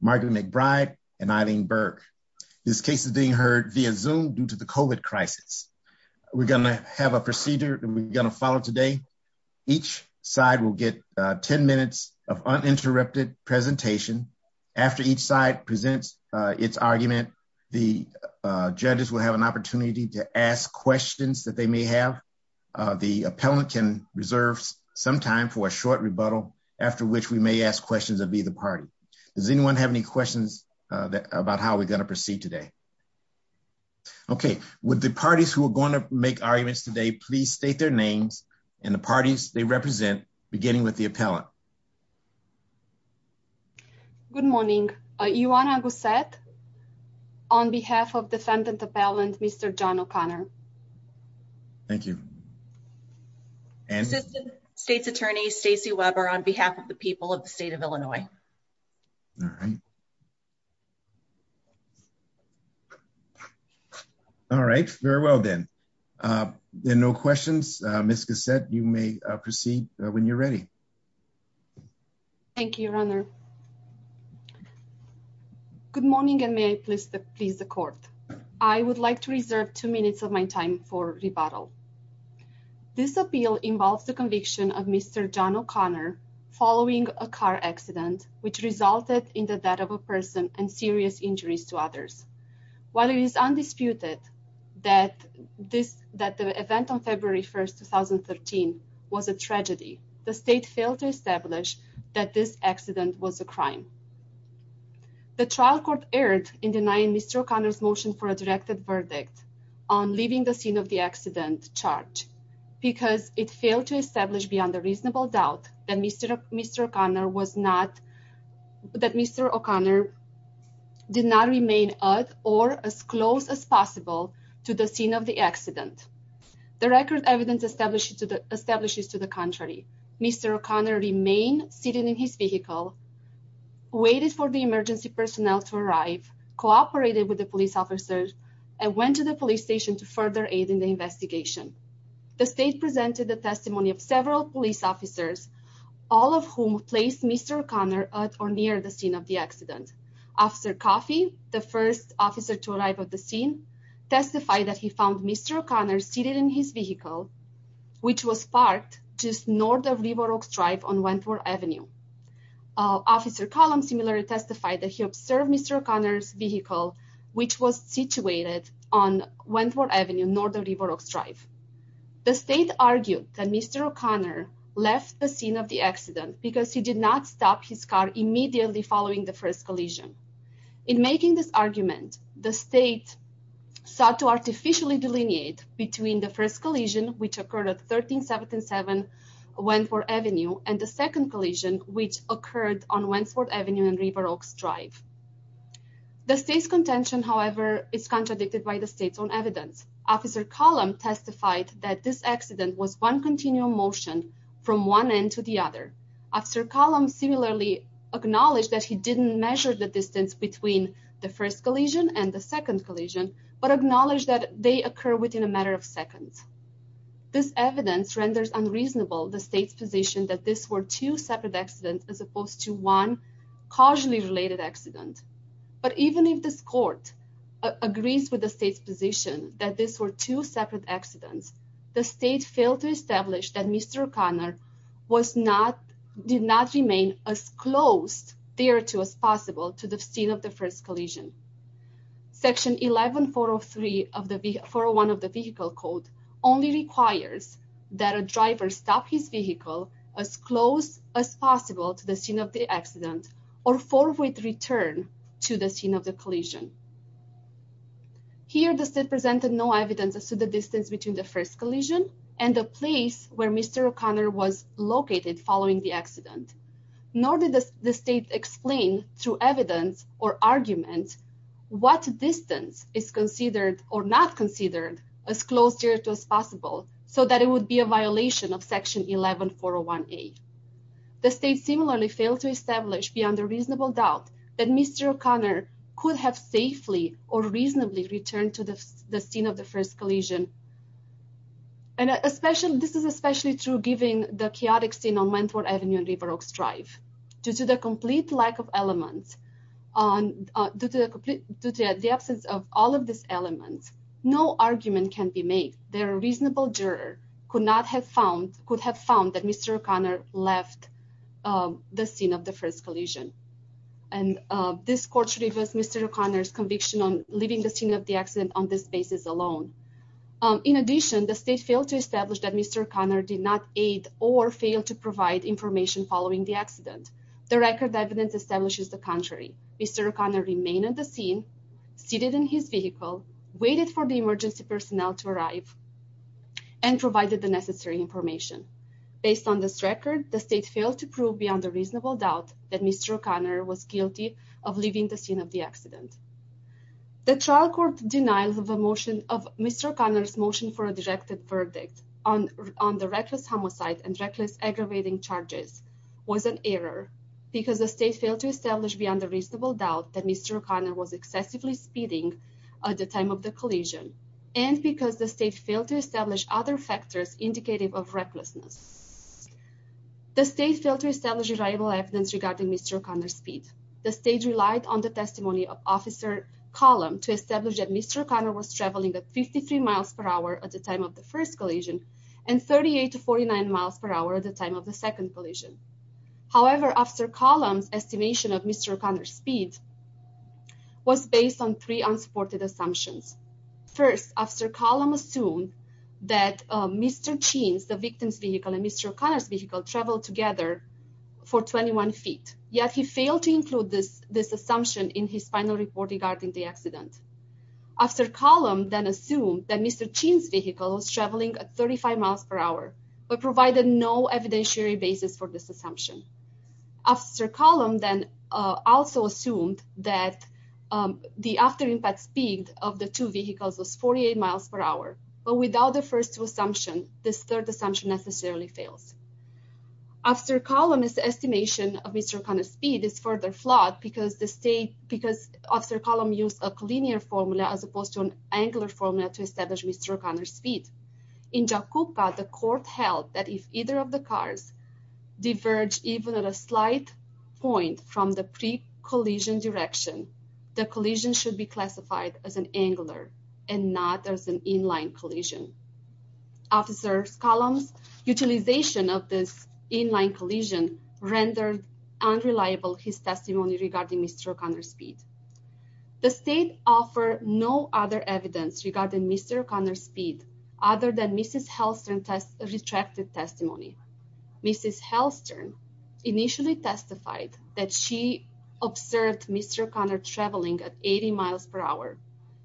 Margaret McBride and Eileen Berg. This case is being heard via Zoom due to the COVID crisis. We're going to have a procedure that we're going to follow today. Each side will get 10 minutes of uninterrupted presentation. After each side presents its argument, the judges will have an opportunity to ask questions that they may have. The appellant can reserve some time for a short Does anyone have any questions about how we're going to proceed today? Okay, would the parties who are going to make arguments today please state their names and the parties they represent, beginning with the appellant. Good morning. Ioana Gossett on behalf of defendant appellant Mr. John O'Connor. Thank you. Assistant State's Attorney Stacey Weber on behalf of the people of the state of All right. All right. Very well then. No questions. Ms. Gossett, you may proceed when you're ready. Thank you, Your Honor. Good morning and may I please the court. I would like to reserve two minutes of my time for rebuttal. This appeal involves the conviction of Mr. John O'Connor following a car accident which resulted in the death of a person and serious injuries to others. While it is undisputed that this that the event on February 1st, 2013 was a tragedy, the state failed to establish that this accident was a crime. The trial court erred in denying Mr. O'Connor's motion for a directed verdict on leaving the scene of the accident charged because it failed to establish beyond a reasonable doubt that Mr. O'Connor was not that Mr. O'Connor did not remain at or as close as possible to the scene of the accident. The record evidence established to the establishes to the contrary. Mr. O'Connor remained sitting in his vehicle, waited for the emergency personnel to arrive, cooperated with the police officers and went to the police station to further aid the investigation. The state presented the testimony of several police officers, all of whom placed Mr. O'Connor at or near the scene of the accident. Officer Coffey, the first officer to arrive at the scene, testified that he found Mr. O'Connor seated in his vehicle which was parked just north of River Oaks Drive on Wentworth Avenue. Officer Collins similarly testified that he on Wentworth Avenue north of River Oaks Drive. The state argued that Mr. O'Connor left the scene of the accident because he did not stop his car immediately following the first collision. In making this argument, the state sought to artificially delineate between the first collision which occurred at 1377 Wentworth Avenue and the second collision which occurred on Wentworth It's contradicted by the state's own evidence. Officer Collum testified that this accident was one continual motion from one end to the other. Officer Collum similarly acknowledged that he didn't measure the distance between the first collision and the second collision but acknowledged that they occur within a matter of seconds. This evidence renders unreasonable the state's position that this were two separate accidents as opposed to one causally related accident. But even if this agrees with the state's position that these were two separate accidents, the state failed to establish that Mr. O'Connor did not remain as close there to as possible to the scene of the first collision. Section 11403 of the vehicle code only requires that a driver stop his vehicle as close as possible to the scene of the accident or forward return to the scene of the collision. Here the state presented no evidence as to the distance between the first collision and the place where Mr. O'Connor was located following the accident. Nor did the state explain through evidence or argument what distance is considered or not considered as close to as possible so that it would be a violation of section 11401A. The state similarly failed to establish beyond a safety or reasonably return to the scene of the first collision. And this is especially true given the chaotic scene on Wentworth Avenue and River Oaks Drive. Due to the complete lack of elements, due to the absence of all of these elements, no argument can be made that a reasonable juror could have found that Mr. O'Connor left the scene of the first collision. And this court should reverse Mr. O'Connor's conviction on leaving the scene of the accident on this basis alone. In addition, the state failed to establish that Mr. O'Connor did not aid or fail to provide information following the accident. The record evidence establishes the contrary. Mr. O'Connor remained at the scene, seated in his vehicle, waited for the emergency personnel to arrive, and provided the necessary information. Based on this record, the state failed to prove beyond a reasonable doubt that Mr. O'Connor was guilty of leaving the scene of the accident. The trial court denials of a motion of Mr. O'Connor's motion for a directed verdict on the reckless homicide and reckless aggravating charges was an error because the state failed to establish beyond a reasonable doubt that Mr. O'Connor was excessively speeding at the time of the collision and because the state failed to establish other factors indicative of recklessness. The state failed to establish reliable evidence regarding Mr. O'Connor's speed. The state relied on the testimony of officer Colum to establish that Mr. O'Connor was traveling at 53 miles per hour at the time of the first collision and 38 to 49 miles per hour at the time of the second collision. However, officer Colum's estimation of Mr. O'Connor's speed was based on three unsupported assumptions. First, officer Colum assumed that Mr. Cheen's, the victim's vehicle and Mr. O'Connor's vehicle traveled together for 21 feet, yet he failed to include this assumption in his final report regarding the accident. Officer Colum then assumed that Mr. Cheen's vehicle was traveling at 35 miles per hour but provided no evidentiary basis for this assumption. Officer Colum then also assumed that the after impact speed of the two vehicles was 48 miles per hour but without the first two assumptions this third assumption necessarily fails. Officer Colum's estimation of Mr. O'Connor's speed is further flawed because the state, because officer Colum used a collinear formula as opposed to an angular formula to establish Mr. The court held that if either of the cars diverge even at a slight point from the pre-collision direction, the collision should be classified as an angular and not as an inline collision. Officer Colum's utilization of this inline collision rendered unreliable his testimony regarding Mr. O'Connor's speed. The state offer no other evidence regarding Mr. O'Connor's speed other than Mrs. Halstern's retracted testimony. Mrs. Halstern initially testified that she observed Mr. O'Connor traveling at 80 miles per hour.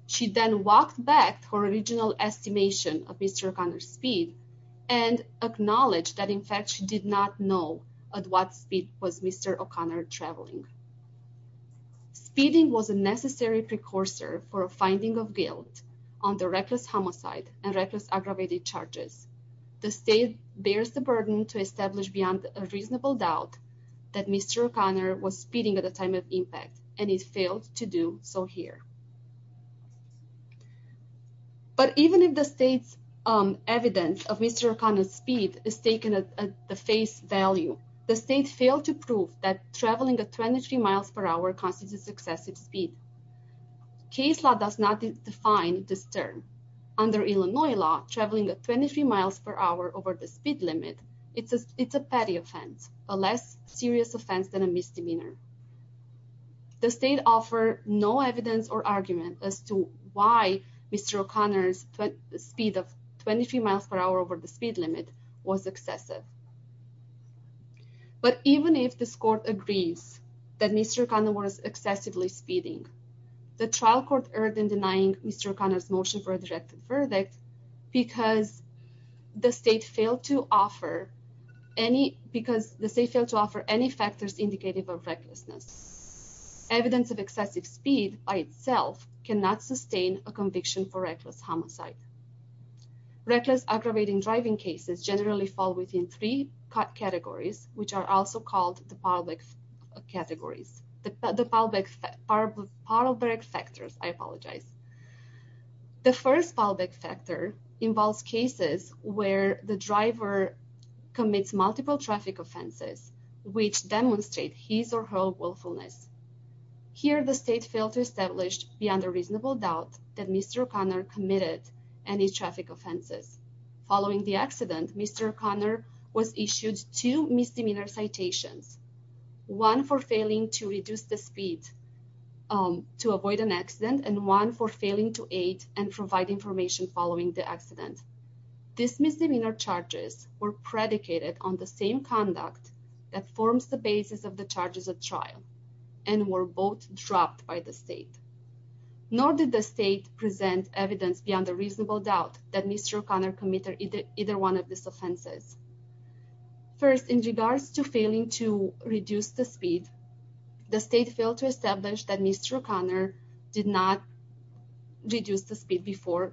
She then walked back her original estimation of Mr. O'Connor's speed and acknowledged that in fact she did not know at what speed was Mr. O'Connor traveling. Speeding was a necessary precursor for a finding of guilt on the reckless homicide and reckless aggravated charges. The state bears the burden to establish beyond a reasonable doubt that Mr. O'Connor was speeding at the time of impact and he failed to do so here. But even if the state's evidence of Mr. O'Connor's speed is taken at the face value, the state failed to prove that traveling at 23 miles per hour constitutes excessive speed. Case law does not define this term. Under Illinois law, traveling at 23 miles per hour over the speed limit, it's a petty offense, a less serious offense than a misdemeanor. The state offer no evidence or argument as to why Mr. O'Connor's speed of 23 miles per hour over the speed limit was excessive. But even if this court agrees that Mr. O'Connor was excessively speeding, the trial court erred in denying Mr. O'Connor's motion for a directive verdict because the state failed to offer any factors indicative of recklessness. Evidence of excessive speed by itself cannot sustain a conviction for reckless homicide. Reckless aggravating driving cases generally fall within three categories, which are also called the Paalbeck categories, the Paalbeck, Paalbeck factors, I apologize. The first Paalbeck factor involves cases where the driver commits multiple traffic offenses, which demonstrate his or her willfulness. Here the state failed to establish beyond a reasonable doubt that Mr. O'Connor committed any traffic offenses. Following the accident, Mr. O'Connor was issued two misdemeanor citations, one for failing to reduce the speed to avoid an accident and one for failing to aid and provide information following the accident. These misdemeanor charges were predicated on the same conduct that forms the basis of the charges of trial and were both dropped by the state. Nor did the state present evidence beyond a reasonable doubt that Mr. O'Connor committed either one of these offenses. First, in regards to failing to reduce the speed, the state failed to establish that Mr. O'Connor did not reduce the speed before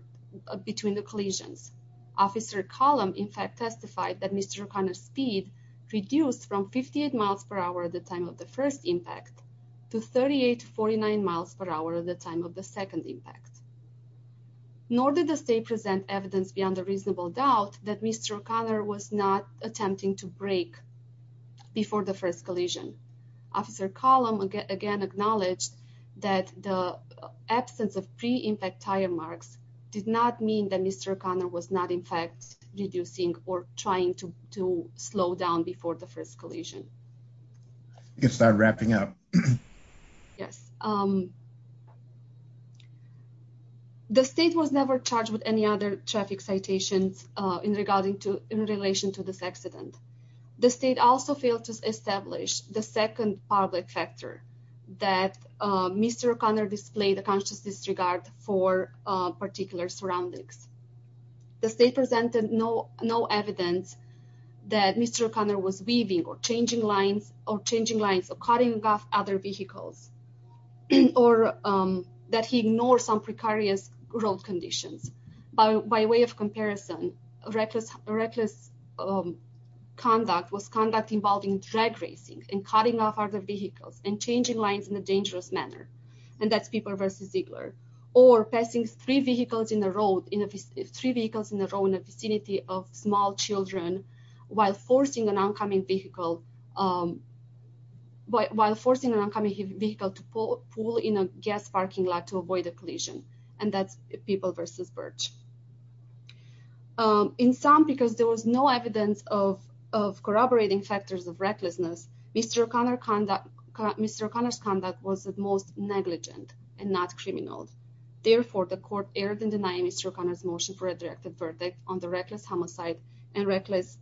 between the collisions. Officer Column, in fact, testified that Mr. O'Connor's speed reduced from 58 miles per hour at the time of the first impact to 38 to 49 miles per hour at the second impact. Nor did the state present evidence beyond a reasonable doubt that Mr. O'Connor was not attempting to brake before the first collision. Officer Column again acknowledged that the absence of pre-impact tire marks did not mean that Mr. O'Connor was not, in fact, reducing or trying to slow down before the first collision. I can start wrapping up. Yes. The state was never charged with any other traffic citations in relation to this accident. The state also failed to establish the second public factor that Mr. O'Connor displayed a disregard for particular surroundings. The state presented no evidence that Mr. O'Connor was weaving or changing lines or cutting off other vehicles or that he ignored some precarious road conditions. By way of comparison, reckless conduct was conduct involving drag racing and cutting off other vehicles and changing lines in a dangerous manner. And that's people versus Ziegler. Or passing three vehicles in a row in a vicinity of small children while forcing an oncoming vehicle to pull in a gas parking lot to avoid a collision. And that's people versus Birch. In sum, because there was no evidence of corroborating factors of recklessness, Mr. O'Connor's conduct was at most negligent and not criminal. Therefore, the court erred in denying Mr. O'Connor's motion for a directed verdict on the reckless homicide and reckless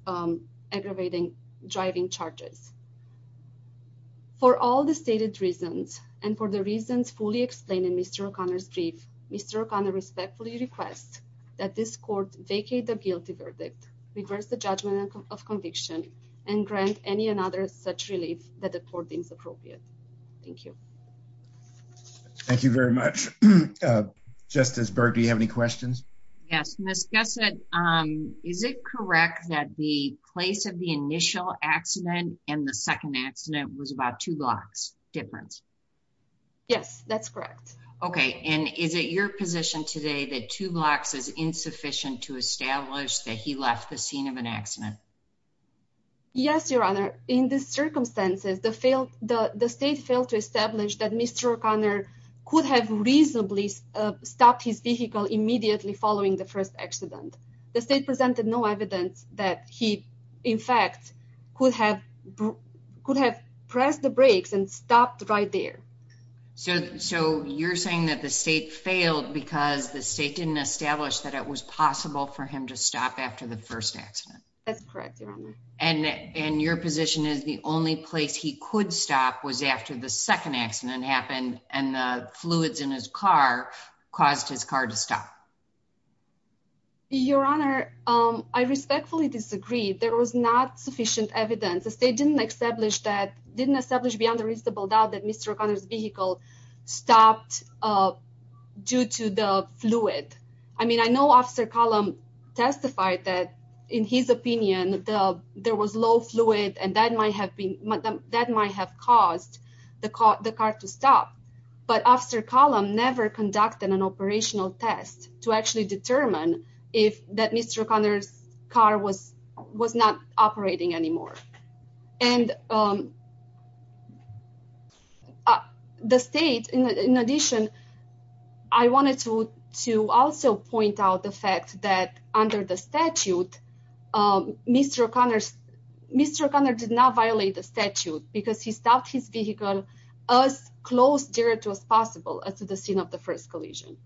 aggravating driving charges. For all the stated reasons and for the reasons fully explained in Mr. O'Connor's brief, Mr. O'Connor respectfully requests that this court vacate the guilty verdict, reverse the judgment of conviction, and grant any another such relief that the court deems appropriate. Thank you. Thank you very much. Justice Berg, do you have any questions? Yes, Ms. Gessett, is it correct that the place of the initial accident and the second accident was about two blocks difference? Yes, that's correct. Okay, and is it your position today that two blocks is insufficient to establish that he left the scene of an accident? Yes, Your Honor. In these circumstances, the state failed to establish that Mr. O'Connor could have reasonably stopped his vehicle immediately following the first accident. The state presented no evidence that he, in fact, could have pressed the brakes and stopped right there. So you're saying that the state failed because the state didn't establish that it was possible for him to stop after the first accident? That's correct, Your Honor. And your position is the only place he could stop was after the second accident happened and the fluids in his car caused his car to stop? Your Honor, I respectfully disagree. There was not sufficient evidence. The state didn't establish that, didn't establish beyond a reasonable doubt that Mr. O'Connor's vehicle stopped due to the fluid. I mean, I know Officer Collum testified that, in his opinion, there was low fluid and that might have been, that might have caused the car to stop. But never conducted an operational test to actually determine if that Mr. O'Connor's car was not operating anymore. And the state, in addition, I wanted to also point out the fact that under the statute, Mr. O'Connor did not violate the statute because he stopped his vehicle as close there to as possible as to the scene of the first collision.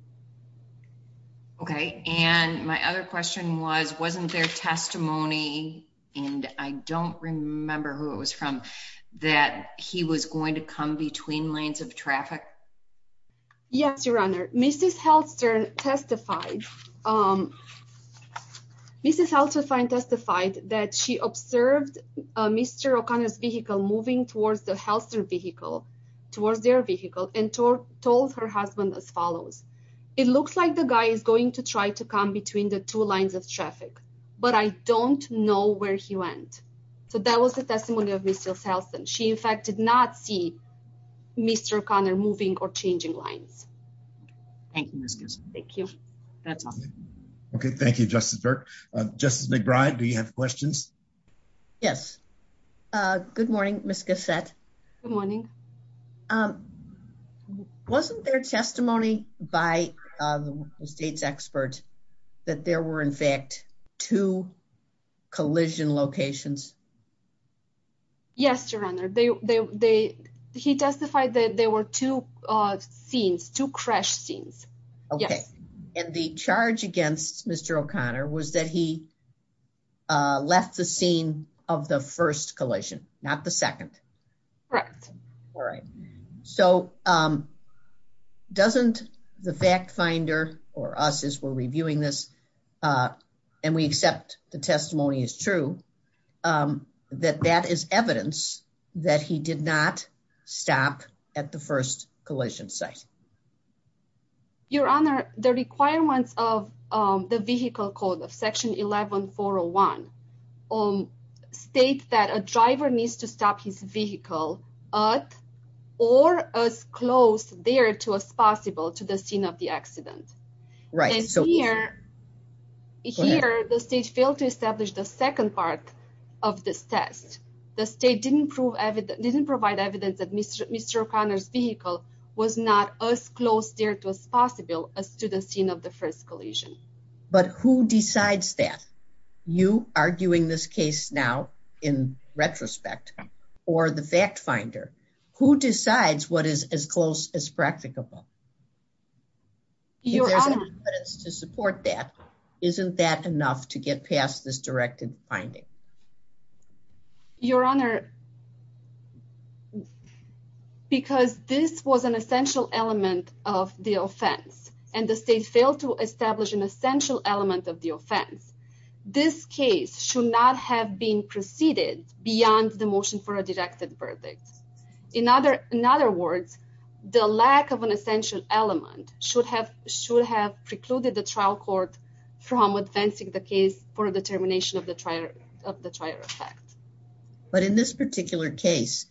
Okay. And my other question was, wasn't there testimony, and I don't remember who it was from, that he was going to come between lanes of traffic? Yes, Your Honor. Mrs. Halster testified, Mrs. Halster testified that she observed Mr. O'Connor's vehicle moving towards the vehicle, towards their vehicle, and told her husband as follows, it looks like the guy is going to try to come between the two lines of traffic, but I don't know where he went. So that was the testimony of Mrs. Halston. She, in fact, did not see Mr. O'Connor moving or changing lines. Thank you, Ms. Gossett. Thank you. That's all. Okay. Thank you, Justice Burke. Justice McBride, do you have questions? Yes. Good morning, Ms. Gossett. Good morning. Wasn't there testimony by the state's expert that there were, in fact, two collision locations? Yes, Your Honor. He testified that there were two scenes, two crash scenes. Okay. And the charge against Mr. O'Connor was that he left the scene of the first collision, not the second? Correct. All right. So doesn't the fact finder, or us as we're reviewing this, and we accept the testimony is true, that that is evidence that he did not stop at the first collision site? Your Honor, the requirements of the vehicle code of section 11-401 state that a driver needs to stop his vehicle at or as close there to as possible to the scene of the accident. Right. And here, the state failed to establish the second part of this test. The student scene of the first collision. But who decides that? You arguing this case now in retrospect, or the fact finder, who decides what is as close as practicable? Your Honor. If there's an evidence to support that, isn't that enough to get past this directed finding? Your Honor, because this was an essential element of the offense, and the state failed to establish an essential element of the offense, this case should not have been preceded beyond the motion for a directed verdict. In other words, the lack of an essential element should have precluded the trial court from advancing the case for a determination of the trial effect. But in this case, in this particular case,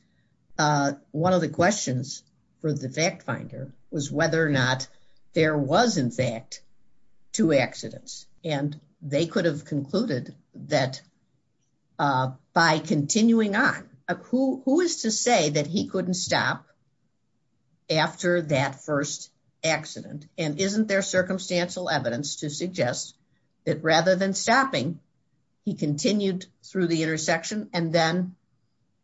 one of the questions for the fact finder was whether or not there was, in fact, two accidents. And they could have concluded that by continuing on, who is to say that he couldn't stop after that first accident? And isn't there circumstantial evidence to suggest that rather than stopping, he continued through the intersection and then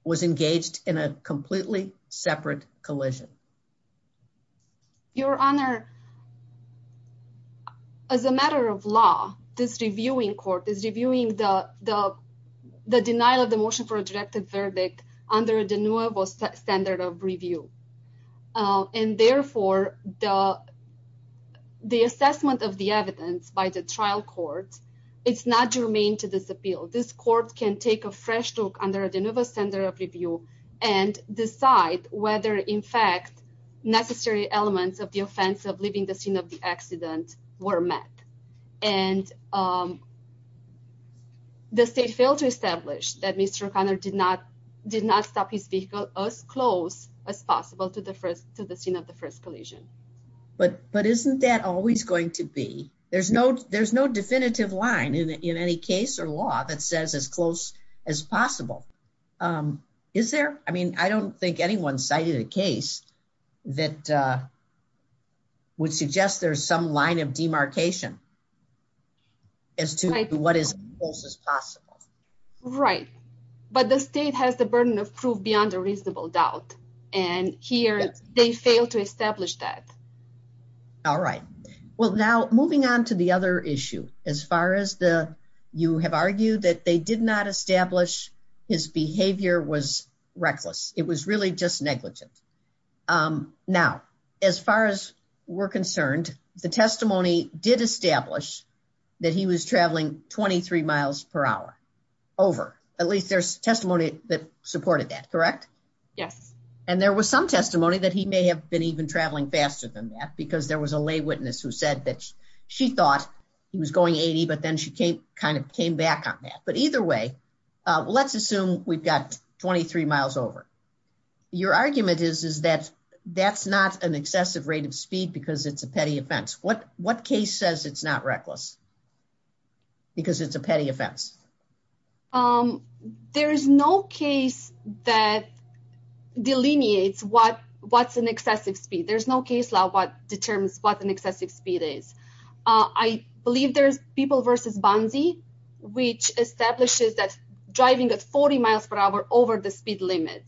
was engaged in a completely separate collision? Your Honor, as a matter of law, this reviewing court is reviewing the denial of the motion for a directed verdict under the new standard of review. And therefore, the assessment of the evidence by the trial court is not germane to this appeal. This court can take a fresh look under the new standard of review and decide whether, in fact, necessary elements of the offense of leaving the scene of the accident were met. And um, the state failed to establish that Mr. O'Connor did not did not stop his vehicle as close as possible to the first to the scene of the first collision. But isn't that always going to be? There's no definitive line in any case or law that says as close as possible. Is there? I mean, I don't think anyone cited a case that would suggest there's some line of demarcation. As to what is as possible, right? But the state has the burden of proof beyond a reasonable doubt. And here they fail to establish that. All right. Well, now moving on to the other issue, as far as the you have argued that they did not establish his behavior was reckless. It was really just negligent. Now, as far as we're concerned, the testimony did establish that he was traveling 23 miles per hour over. At least there's testimony that supported that, correct? Yes. And there was some testimony that he may have been even traveling faster than that because there was a lay witness who said that she thought he was going 80, but then she came kind of came back on that. But either way, let's assume we've got 23 miles over. Your argument is, is that that's not an excessive rate of speed because it's a petty offense. What what case says it's not reckless because it's a petty offense? There is no case that delineates what what's an excessive speed. There's no case law what determines what an excessive speed is. I believe there's people versus Bonsi, which establishes that driving at 40 miles per hour over the speed limit.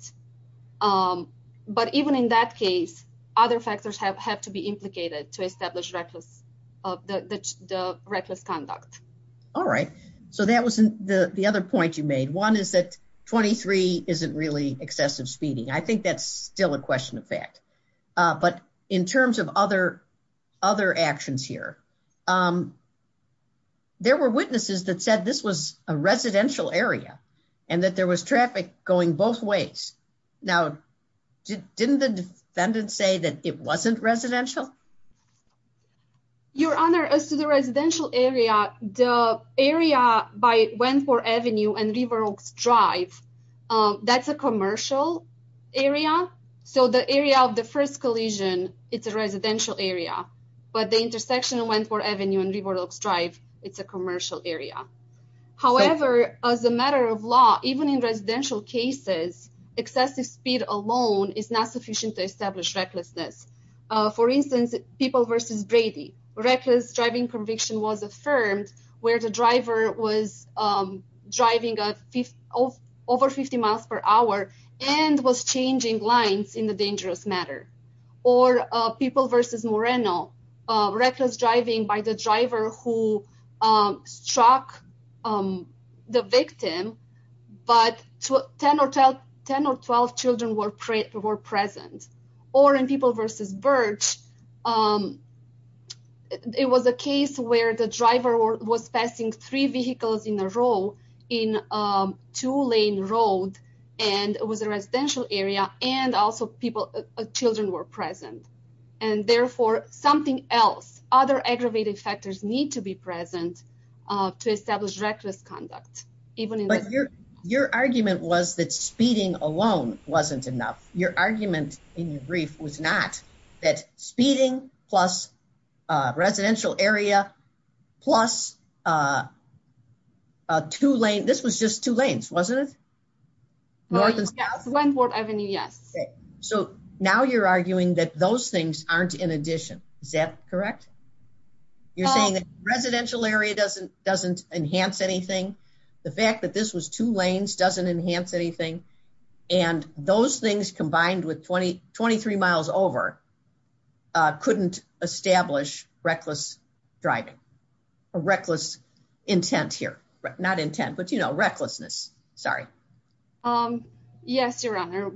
But even in that case, other factors have have to be implicated to the reckless conduct. All right. So that wasn't the other point you made. One is that 23 isn't really excessive speeding. I think that's still a question of fact. But in terms of other other actions here, there were witnesses that said this was a residential area and that there was traffic going both ways. Now, didn't the defendant say that it wasn't residential? Your Honor, as to the residential area, the area by Wentworth Avenue and River Oaks Drive, that's a commercial area. So the area of the first collision, it's a residential area. But the intersection of Wentworth Avenue and River Oaks Drive, it's a commercial area. However, as a matter of law, even in residential cases, excessive speed alone is not sufficient to people versus Brady. Reckless driving conviction was affirmed where the driver was driving over 50 miles per hour and was changing lines in the dangerous matter. Or people versus Moreno, reckless driving by the driver who struck the victim, but 10 or 12 children were present. Or in people versus Birch, it was a case where the driver was passing three vehicles in a row in a two lane road and it was a residential area and also people, children were present. And therefore, something else, other aggravated factors need to be present to establish reckless conduct. But your argument was that speeding alone wasn't enough. Your argument in your brief was not that speeding plus residential area plus two lane, this was just two lanes, wasn't it? North and south? Wentworth Avenue, yes. So now you're arguing that those things aren't in addition. Is that correct? You're saying that residential area doesn't enhance anything. The fact that this was two lanes doesn't enhance anything. And those things combined with 20, 23 miles over, couldn't establish reckless driving or reckless intent here. Not intent, but you know, recklessness. Sorry. Yes, Your Honor.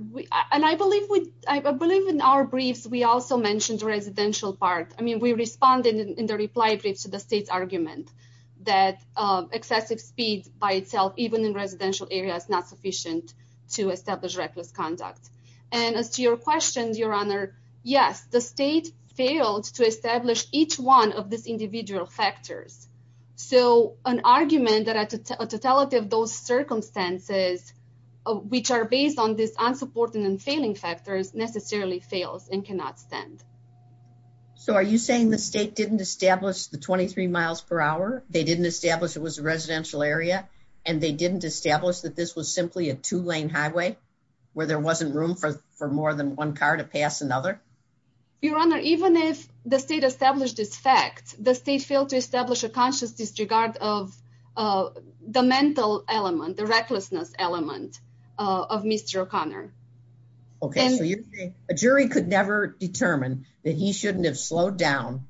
And I believe in our briefs, we also mentioned the residential part. I mean, we responded in the reply brief to the state's argument that excessive speed by itself, even in residential areas, not sufficient to establish reckless conduct. And as to your question, Your Honor, yes, the state failed to establish each one of these individual factors. So an argument that a totality of those circumstances, which are based on this unsupporting and failing factors necessarily fails and cannot stand. So are you saying the state didn't establish the 23 miles per hour? They didn't establish it was a residential area and they didn't establish that this was simply a two lane highway where there wasn't room for more than one car to pass another? Your Honor, even if the state established this fact, the state failed to establish a conscious disregard of the mental element, the recklessness element of Mr. O'Connor. Okay, so you're saying a jury could never determine that he shouldn't have slowed down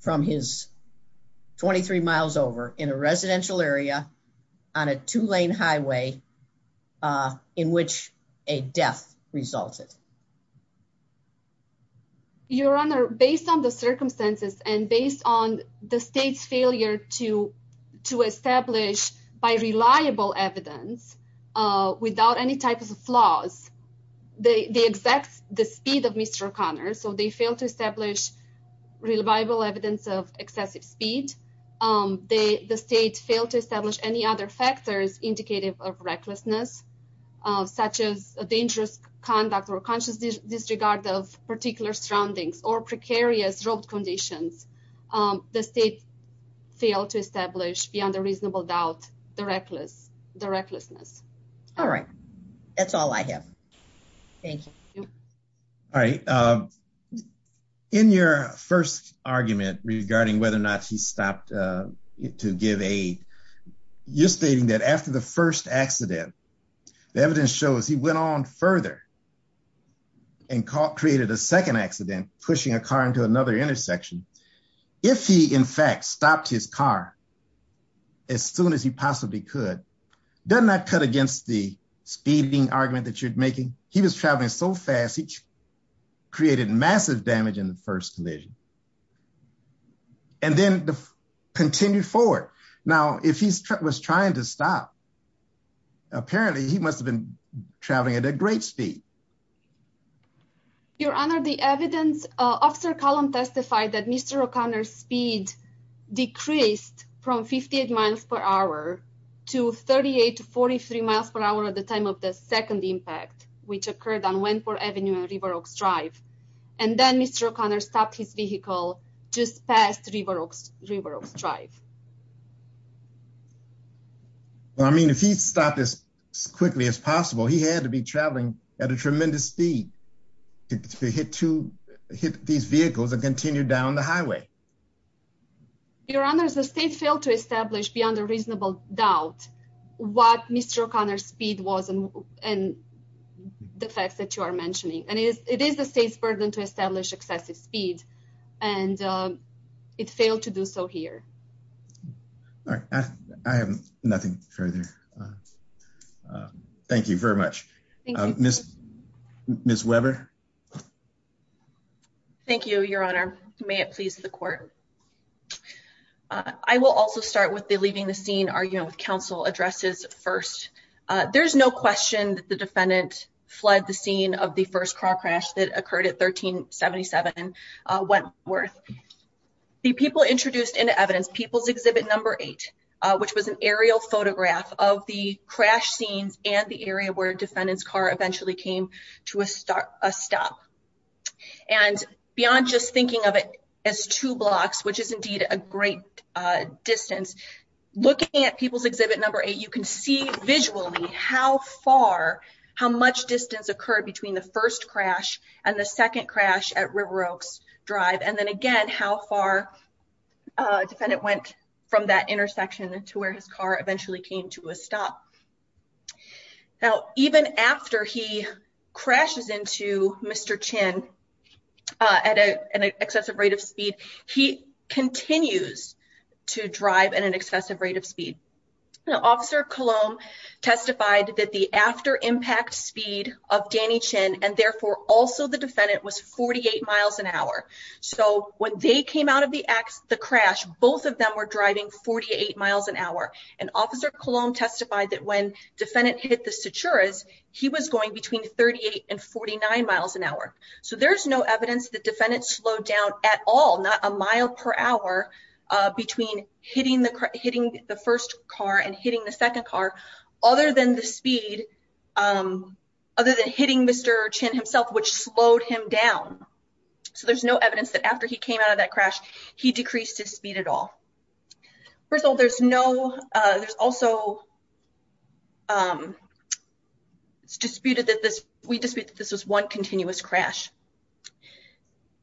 from his 23 miles over in a residential area on a two lane highway in which a death resulted. Your Honor, based on the circumstances and based on the state's failure to to establish by reliable evidence without any type of flaws, the exact the speed of Mr. O'Connor, so they failed to establish reliable evidence of excessive speed. The state failed to establish any other factors indicative of recklessness, such as a dangerous conduct or conscious disregard of particular surroundings or precarious road conditions. The state failed to establish beyond a reasonable doubt the recklessness. All right, that's all I have. Thank you. All right. In your first argument regarding whether or not he stopped to give aid, you're stating that after the first accident, the evidence shows he went on further and created a second accident, pushing a car into another intersection. If he, in fact, stopped his car as soon as he possibly could, doesn't that cut against the speeding argument that you're making? He was traveling so fast, he created massive damage in the first collision and then continued forward. Now, if he was trying to stop, apparently he must have been traveling at a great speed. Your Honor, the evidence officer column testified that Mr. O'Connor's speed decreased from 58 miles per hour to 38 to 43 miles per hour at the time of the second impact, which occurred on Wentworth Avenue and River Oaks Drive. And then Mr. O'Connor stopped his vehicle just past River Oaks Drive. Well, I mean, if he stopped as quickly as possible, he had to be traveling at a tremendous speed to hit these vehicles and continue down the highway. Your Honor, the state failed to establish beyond a reasonable doubt what Mr. O'Connor's speed was and the facts that you are mentioning. And it is the state's burden to establish excessive speed, and it failed to do so here. All right, I have nothing further. Thank you very much. Miss Webber. Thank you, Your Honor. May it please the Court. I will also start with the leaving the scene argument with counsel addresses first. There's no question that the defendant fled the scene of the first car crash that occurred at 1377 Wentworth. The people introduced into evidence People's Exhibit No. 8, which was an aerial photograph of the crash scenes and the area where defendant's car eventually came to a stop. And beyond just thinking of it as two blocks, which is indeed a great distance, looking at People's Exhibit No. 8, you can see visually how far, how much distance occurred between the first crash and the second crash at River Oaks Drive. And then again, how far defendant went from that stop. Now, even after he crashes into Mr. Chin at an excessive rate of speed, he continues to drive at an excessive rate of speed. Officer Cologne testified that the after impact speed of Danny Chin and therefore also the defendant was 48 miles an hour. So when they came out of the crash, both of them were driving 48 miles an hour. And Officer Cologne testified that when defendant hit the sutures, he was going between 38 and 49 miles an hour. So there's no evidence that defendants slowed down at all, not a mile per hour between hitting the hitting the first car and hitting the second car, other than the speed, other than hitting Mr. Chin himself, which slowed him down. So there's no evidence that after he hit Mr. Chin, he slowed down at all. First of all, there's no, there's also it's disputed that this, we dispute that this was one continuous crash.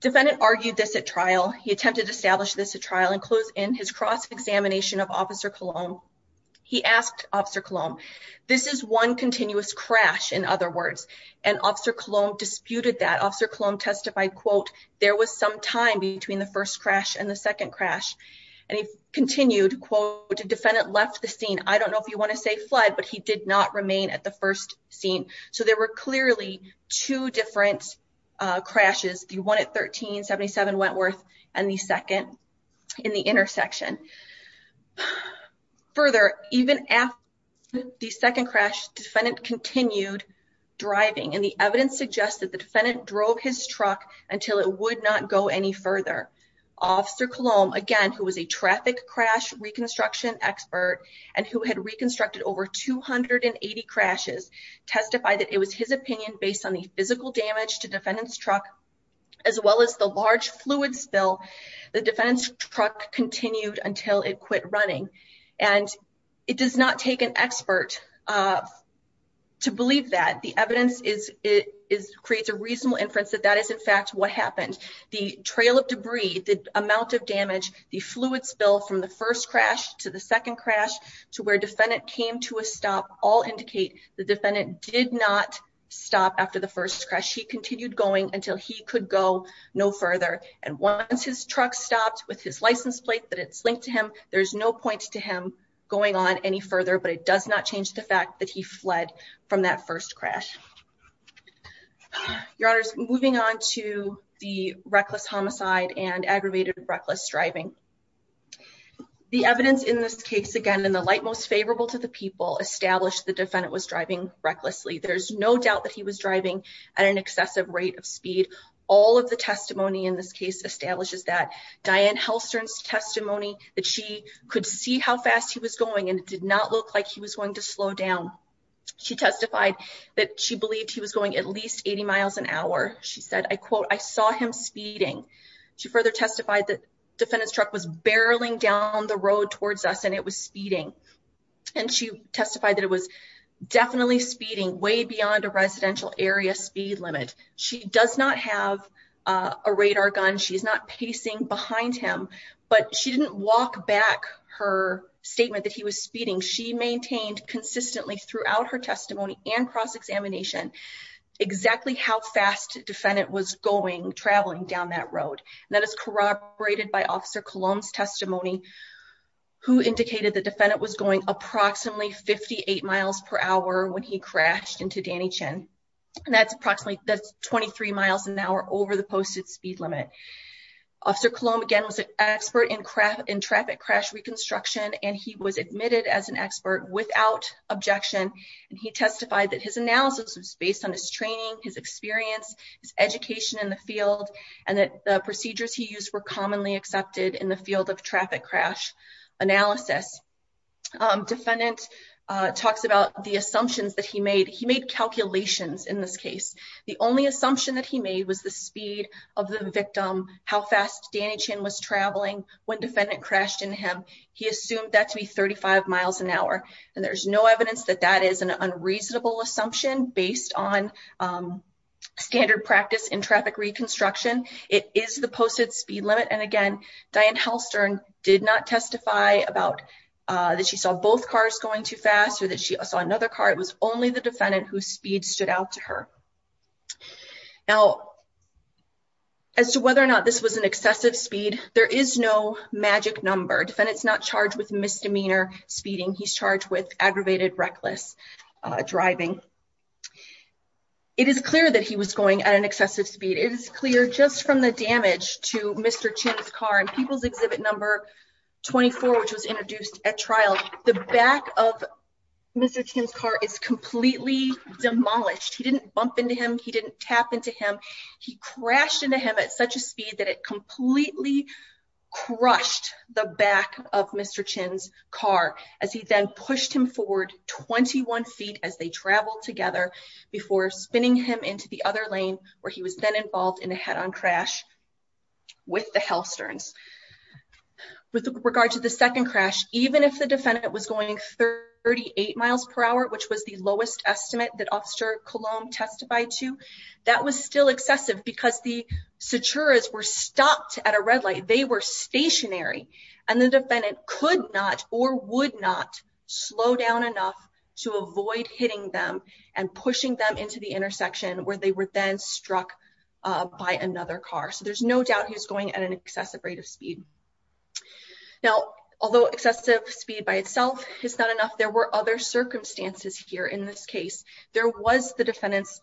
Defendant argued this at trial. He attempted to establish this at trial and close in his cross-examination of Officer Cologne. He asked Officer Cologne, this is one continuous crash, in other words, and Officer Cologne disputed that. Officer Cologne testified, quote, there was some time between the first crash and the second crash. And he continued, quote, the defendant left the scene. I don't know if you want to say fled, but he did not remain at the first scene. So there were clearly two different crashes. The one at 1377 Wentworth and the second in the intersection. Further, even after the second crash, defendant continued driving. And the evidence suggests that the defendant drove his truck until it would not go any further. Officer Cologne, again, who was a traffic crash reconstruction expert and who had reconstructed over 280 crashes, testified that it was his opinion based on the physical damage to defendant's truck, as well as the large fluid spill. The defendant's truck continued until it to believe that. The evidence creates a reasonable inference that that is, in fact, what happened. The trail of debris, the amount of damage, the fluid spill from the first crash to the second crash to where defendant came to a stop all indicate the defendant did not stop after the first crash. He continued going until he could go no further. And once his truck stopped with his license plate that it's linked to him, there's no point to him going on any further. But it does not change the fact that he fled from that first crash. Your Honor, moving on to the reckless homicide and aggravated reckless driving. The evidence in this case, again, in the light most favorable to the people, established the defendant was driving recklessly. There's no doubt that he was driving at an excessive rate of speed. All of the testimony in this case establishes that. Diane Halstern's testimony that she could see how fast he was going and it did not look like he was going to slow down. She testified that she believed he was going at least 80 miles an hour. She said, I quote, I saw him speeding. She further testified that defendant's truck was barreling down the road towards us and it was speeding. And she testified that it was definitely speeding way beyond a residential area speed limit. She does not have a radar gun. She is not pacing behind him. But she didn't walk back her statement that he was speeding. She maintained consistently throughout her testimony and cross-examination exactly how fast defendant was going, traveling down that road. That is corroborated by Officer Cologne's testimony who indicated the defendant was going approximately 58 miles per hour when he crashed into Danny Chin. And that's approximately, that's 23 miles an hour over the posted speed limit. Officer Cologne, again, was an expert in traffic crash reconstruction and he was admitted as an expert without objection. And he testified that his analysis was based on his training, his experience, his education in the field, and that the procedures he used were commonly accepted in the field of traffic crash analysis. Defendant talks about the assumptions that he made. He made calculations in this case. The only assumption that he made was the speed of the victim, how fast Danny Chin was traveling, when defendant crashed into him. He assumed that to be 35 miles an hour. And there's no evidence that that is an unreasonable assumption based on standard practice in traffic reconstruction. It is the posted speed limit. And again, Diane Halstern did not testify about that she saw both cars going too fast or that she saw another car. It was only the defendant whose speed stood out to her. Now, as to whether or not this was an excessive speed, there is no magic number. Defendant's not charged with misdemeanor speeding. He's charged with aggravated reckless driving. It is clear that he was going at an excessive speed. It is clear just from the damage to Mr. Chin's car and People's Exhibit Number 24, which was introduced at trial, the back of Mr. Chin's car is completely demolished. He didn't bump into him. He didn't tap into him. He crashed into him at such a speed that it completely crushed the back of Mr. Chin's car as he then pushed him forward 21 feet as they traveled together before spinning him into the other lane where he was then involved in a head-on crash with the Halsterns. With regard to the second crash, even if the was the lowest estimate that Officer Coulomb testified to, that was still excessive because the Saturas were stopped at a red light. They were stationary and the defendant could not or would not slow down enough to avoid hitting them and pushing them into the intersection where they were then struck by another car. So there's no doubt he was going at an excessive rate of speed. Now, although excessive speed by itself is not enough, there were other circumstances here in this case. There was the defendant's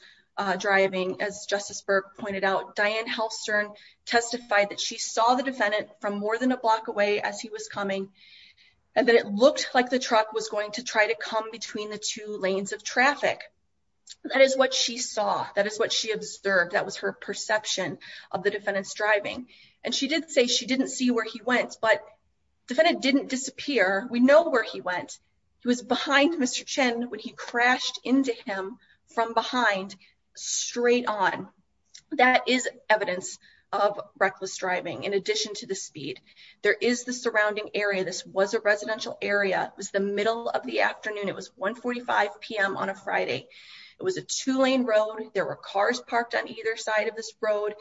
driving as Justice Burke pointed out. Diane Halstern testified that she saw the defendant from more than a block away as he was coming and that it looked like the truck was going to try to come between the two lanes of traffic. That is what she saw. That is what she of the defendant's driving. And she did say she didn't see where he went, but the defendant didn't disappear. We know where he went. He was behind Mr. Chen when he crashed into him from behind straight on. That is evidence of reckless driving. In addition to the speed, there is the surrounding area. This was a residential area. It was the middle of the afternoon. It was 1 45 p.m. on a Friday. It was a two-lane road. There were cars parked on either side of this road,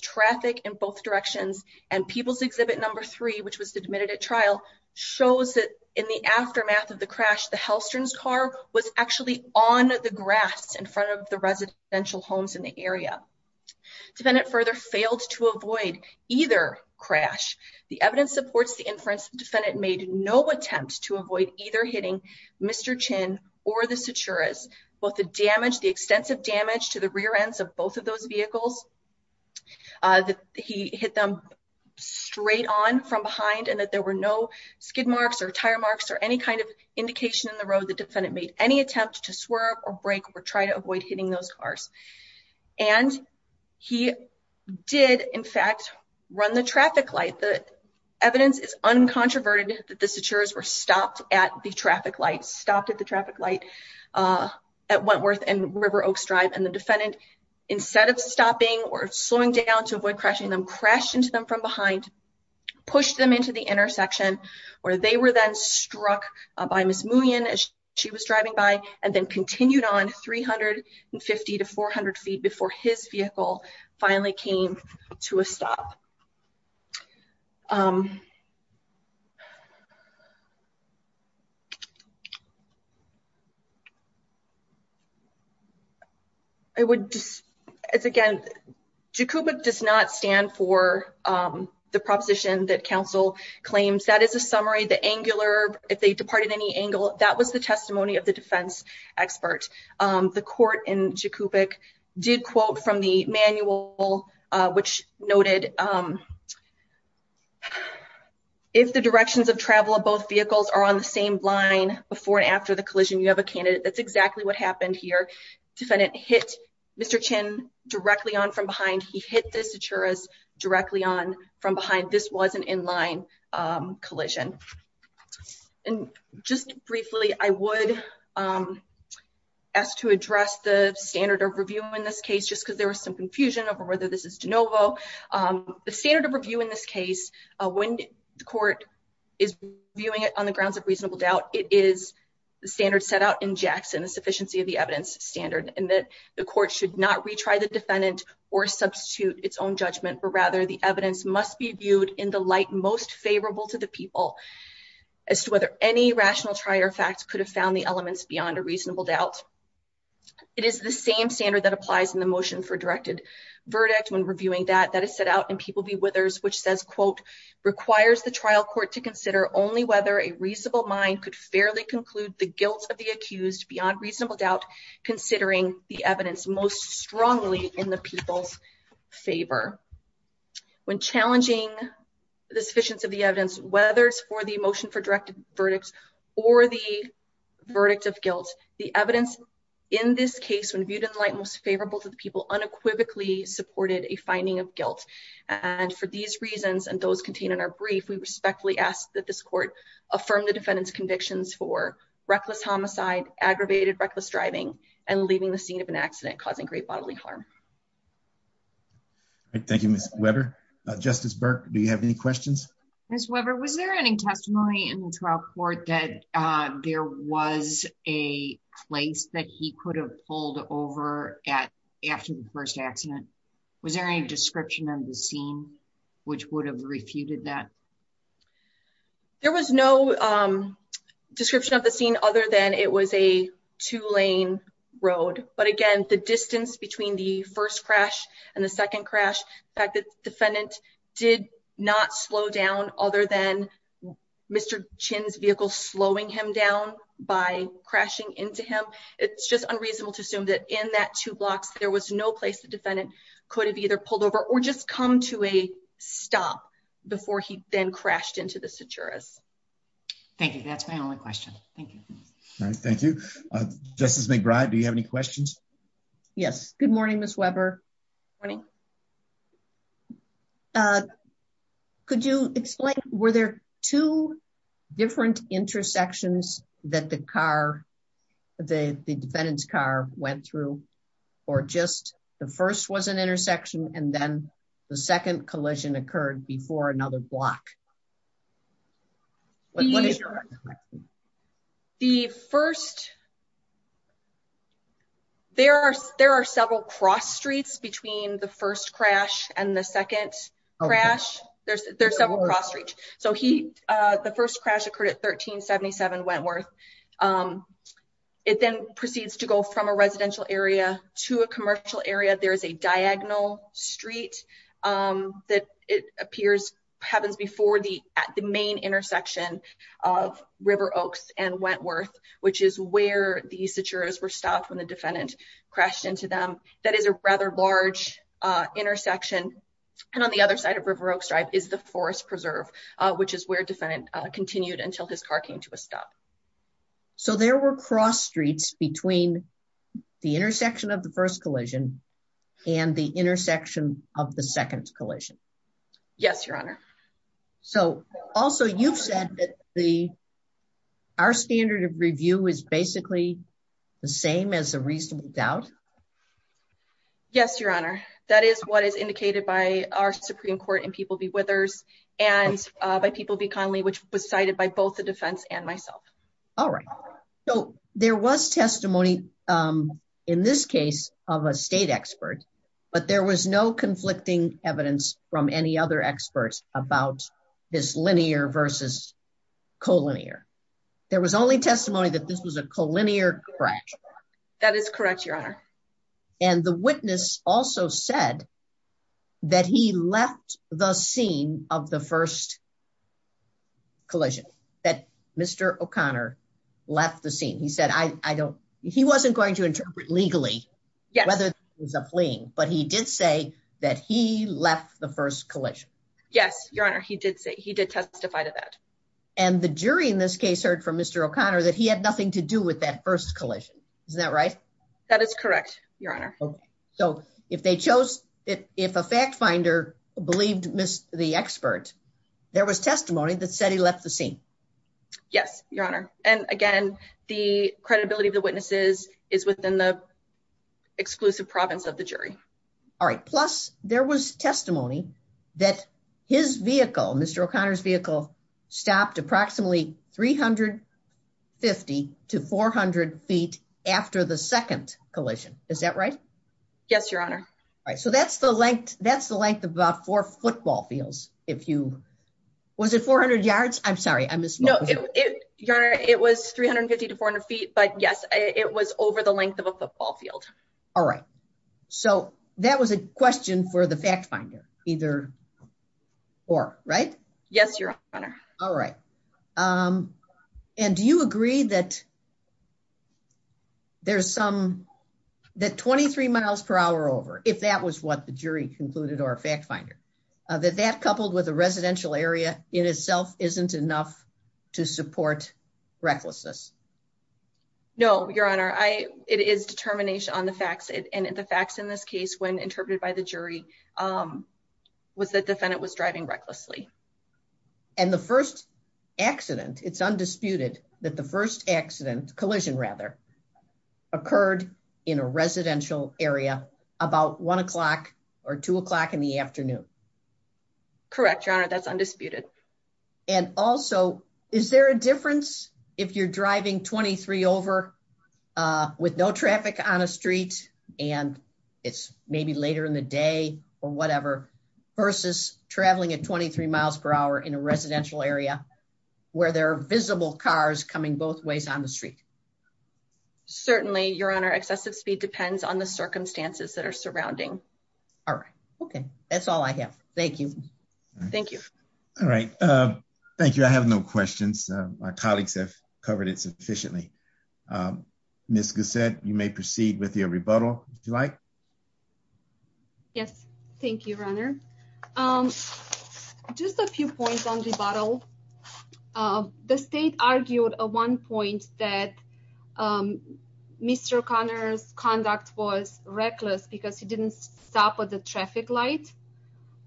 traffic in both directions, and People's Exhibit No. 3, which was admitted at trial, shows that in the aftermath of the crash, the Halstern's car was actually on the grass in front of the residential homes in the area. The defendant further failed to avoid either crash. The evidence supports the inference the defendant made no attempt to avoid either hitting Mr. Chen or the Saturas. Both the damage, the extensive damage to the rear ends of both of those vehicles, he hit them straight on from behind and that there were no skid marks or tire marks or any kind of indication in the road the defendant made any attempt to swerve or brake or try to avoid the crash. The evidence is uncontroverted that the Saturas were stopped at the traffic light, stopped at the traffic light at Wentworth and River Oaks Drive, and the defendant, instead of stopping or slowing down to avoid crashing them, crashed into them from behind, pushed them into the intersection, where they were then struck by Ms. Muhnion as she was driving by, and then continued on 350 to 400 feet before his vehicle finally came to a stop. I would just, as again, Jacoubic does not stand for the proposition that counsel claims. That is a summary, the angular, if they departed any angle, that was the testimony of the If the directions of travel of both vehicles are on the same line before and after the collision, you have a candidate. That's exactly what happened here. Defendant hit Mr. Chin directly on from behind. He hit the Saturas directly on from behind. This was an in-line collision. And just briefly, I would ask to address the standard of review in this case, just because there was some confusion over whether this is de novo. The standard of review in this case, when the court is viewing it on the grounds of reasonable doubt, it is the standard set out in Jackson, the sufficiency of the evidence standard, and that the court should not retry the defendant or substitute its own judgment, but rather the evidence must be viewed in the light most favorable to the people as to whether any rational trier facts could have found the elements beyond a reasonable doubt. It is the same standard that applies in the motion for directed verdict when reviewing that that is set out in People v. Withers, which says, quote, requires the trial court to consider only whether a reasonable mind could fairly conclude the guilt of the accused beyond reasonable doubt, considering the evidence most strongly in the people's favor. When challenging the sufficiency of the evidence, whether it's for the motion for directed verdicts or the in this case, when viewed in the light most favorable to the people unequivocally supported a finding of guilt. And for these reasons, and those contained in our brief, we respectfully ask that this court affirm the defendant's convictions for reckless homicide, aggravated reckless driving, and leaving the scene of an accident causing great bodily harm. Thank you, Ms. Weber. Justice Burke, do you have any questions? Ms. Weber, was there any testimony in the trial court that there was a place that he could have pulled over at after the first accident? Was there any description of the scene which would have refuted that? There was no description of the scene other than it was a two-lane road. But again, the distance between the first crash and the second crash, the fact that the defendant did not slow down other than Mr. Chinn's vehicle slowing him down by crashing into him, it's just unreasonable to assume that in that two blocks there was no place the defendant could have either pulled over or just come to a stop before he then crashed into the Saturus. Thank you. That's my only question. Thank you. All right, thank you. Justice McBride, do you have any questions? Yes. Good morning, Ms. Weber. Good morning. Could you explain, were there two different intersections that the car, the defendant's car went through or just the first was an intersection and then the second collision occurred before another block? What is your expectation? The first, there are several cross streets between the first crash and the second crash. There's several cross streets. So the first crash occurred at 1377 Wentworth. It then proceeds to go from a residential area to a commercial area. There is a diagonal street that it appears happens before the main intersection of River Oaks and Wentworth, which is where the Saturus were stopped when the defendant crashed into them. That is a rather large intersection. And on the other side of River Oaks Drive is the Forest Preserve, which is where defendant continued until his car came to a stop. So there were cross streets between the intersection of the first collision and the intersection of the second collision? Yes, Your Honor. So also, you've said that the, our standard of review is basically the same as a reasonable doubt? Yes, Your Honor. That is what is indicated by our Supreme Court in People v. Withers and by People v. Connolly, which was cited by both the defense and myself. All right. So there was testimony in this case of a state expert, but there was no conflicting evidence from any other experts about this linear versus collinear. There was only testimony that this was a collinear crash. That is correct, Your Honor. And the witness also said that he left the scene of the first collision, that Mr. O'Connor left the scene. He said, I don't, he wasn't going to interpret legally whether it was a fleeing, but he did say that he left the first collision. Yes, Your Honor. He did say, he did testify to that. And the jury in this case heard from Mr. O'Connor that he had nothing to do with that first collision. Isn't that right? That is correct, Your Honor. So if they chose it, if a fact finder believed the expert, there was testimony that said he left the scene. Yes, Your Honor. And again, the credibility of the witnesses is within the exclusive province of the jury. All right. Plus there was testimony that his vehicle, Mr. O'Connor's vehicle stopped approximately 350 to 400 feet after the second collision. Is that right? Yes, Your Honor. All right. So that's the length, that's the length of about four football fields. If you, was it 400 yards? I'm sorry, I missed. No, Your Honor, it was 350 to 400 feet, but yes, it was over the length of a football field. All right. So that was a question for the fact finder, either or, right? Yes, Your Honor. All right. And do you agree that there's some, that 23 miles per hour over, if that was what the jury concluded or a fact finder, that that coupled with a residential area in itself isn't enough to support recklessness? No, Your Honor. I, it is determination on the facts and the facts in this case when interpreted by the jury was that the defendant was driving recklessly. And the first accident, it's undisputed that the first accident, collision rather, occurred in a residential area about one o'clock or two o'clock in the afternoon. Correct, Your Honor. That's undisputed. And also, is there a difference if you're driving 23 over with no traffic on a street and it's maybe later in the day or whatever versus traveling at 23 miles per hour in a residential area where there are visible cars coming both ways on the street? Certainly, Your Honor. Excessive speed depends on the circumstances that are surrounding. All right. Okay. That's all I have. Thank you. Thank you. All right. Thank you. I have no questions. My colleagues have covered it sufficiently. Ms. Gossett, you may proceed with your rebuttal, if you like. Yes. Thank you, Your Honor. Just a few points on rebuttal. The state argued at one point that Mr. O'Connor's conduct was reckless because he didn't stop at a traffic light.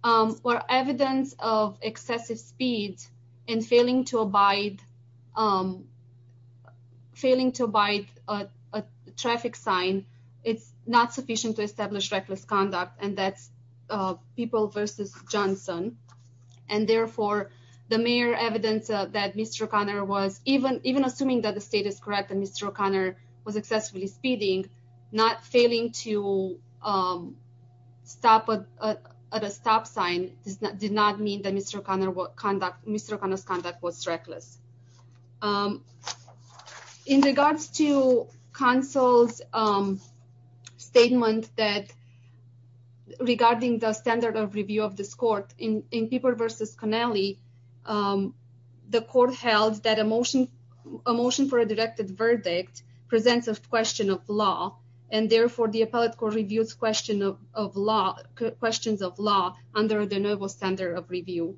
Evidence of excessive speed and failing to abide a traffic sign, it's not sufficient to establish reckless conduct. And that's People v. Johnson. And therefore, the mayor's evidence that Mr. O'Connor was, even assuming that the state is correct and Mr. O'Connor was excessively speeding, not failing to stop at a stop sign did not mean that Mr. O'Connor's conduct was reckless. In regards to counsel's statement regarding the standard of review of this court, in People v. Connelly, the court held that a motion for a directed verdict presents a question of law. And therefore, the appellate court reviews questions of law under the normal standard of review.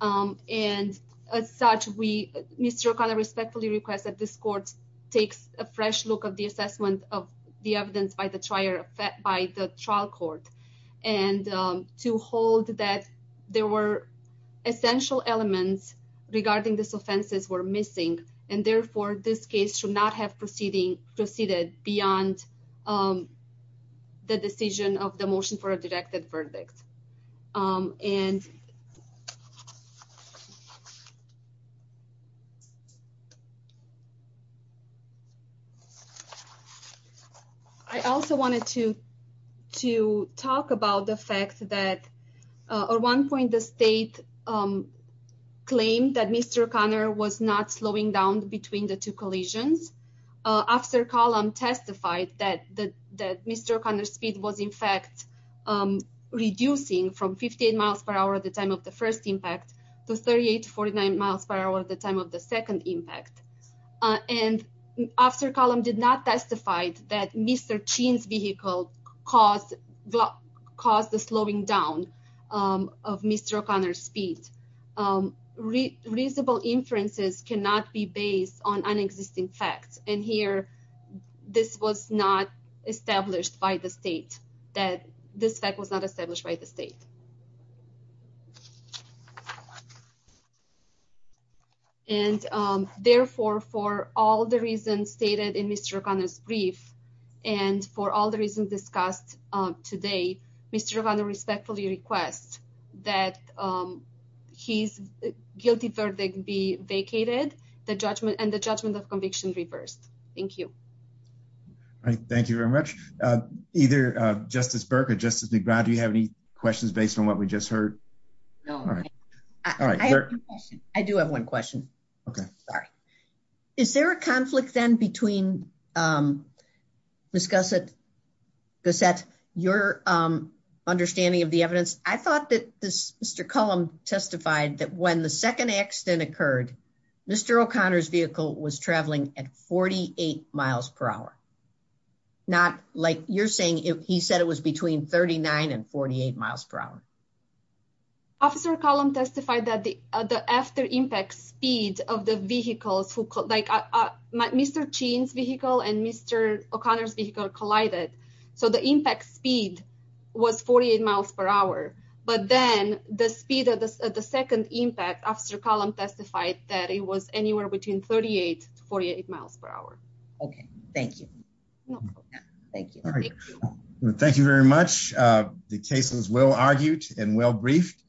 And as such, Mr. O'Connor respectfully requests that this court takes a there were essential elements regarding this offenses were missing. And therefore, this case should not have proceeded beyond the decision of the motion for a directed verdict. And I also wanted to talk about the fact that at one point, the state claimed that Mr. O'Connor was not slowing down between the two collisions. Officer Callum testified that Mr. O'Connor's in fact, reducing from 58 miles per hour at the time of the first impact to 38 to 49 miles per hour at the time of the second impact. And Officer Callum did not testify that Mr. Chin's vehicle caused the slowing down of Mr. O'Connor's speed. Reasonable inferences cannot be based on unexisting facts. And here, this was not established by the state, that this fact was not established by the state. And therefore, for all the reasons stated in Mr. O'Connor's brief, and for all the reasons discussed today, Mr. O'Connor respectfully requests that his guilty verdict be vacated and the judgment of conviction reversed. Thank you. All right, thank you very much. Either Justice Burke or Justice McBride, do you have any questions based on what we just heard? No. I do have one question. Is there a conflict then between, Ms. Gossett, your understanding of the evidence? I thought that Mr. Callum testified that when the second accident occurred, Mr. O'Connor's vehicle was traveling at 48 miles per hour. Not like you're saying, he said it was between 39 and 48 miles per hour. Officer Callum testified that the after impact speed of the vehicles, like Mr. Chien's vehicle and Mr. O'Connor's vehicle collided. So the impact speed was 48 miles per hour. But then, the speed of the second impact, Officer Callum testified that it was anywhere between 38 to 48 miles per hour. Okay. Thank you. Thank you. Thank you very much. The case was well argued and well briefed.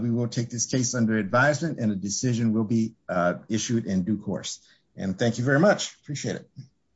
We will take this case under advisement and a decision will be issued in due course. And thank you very much. Appreciate it.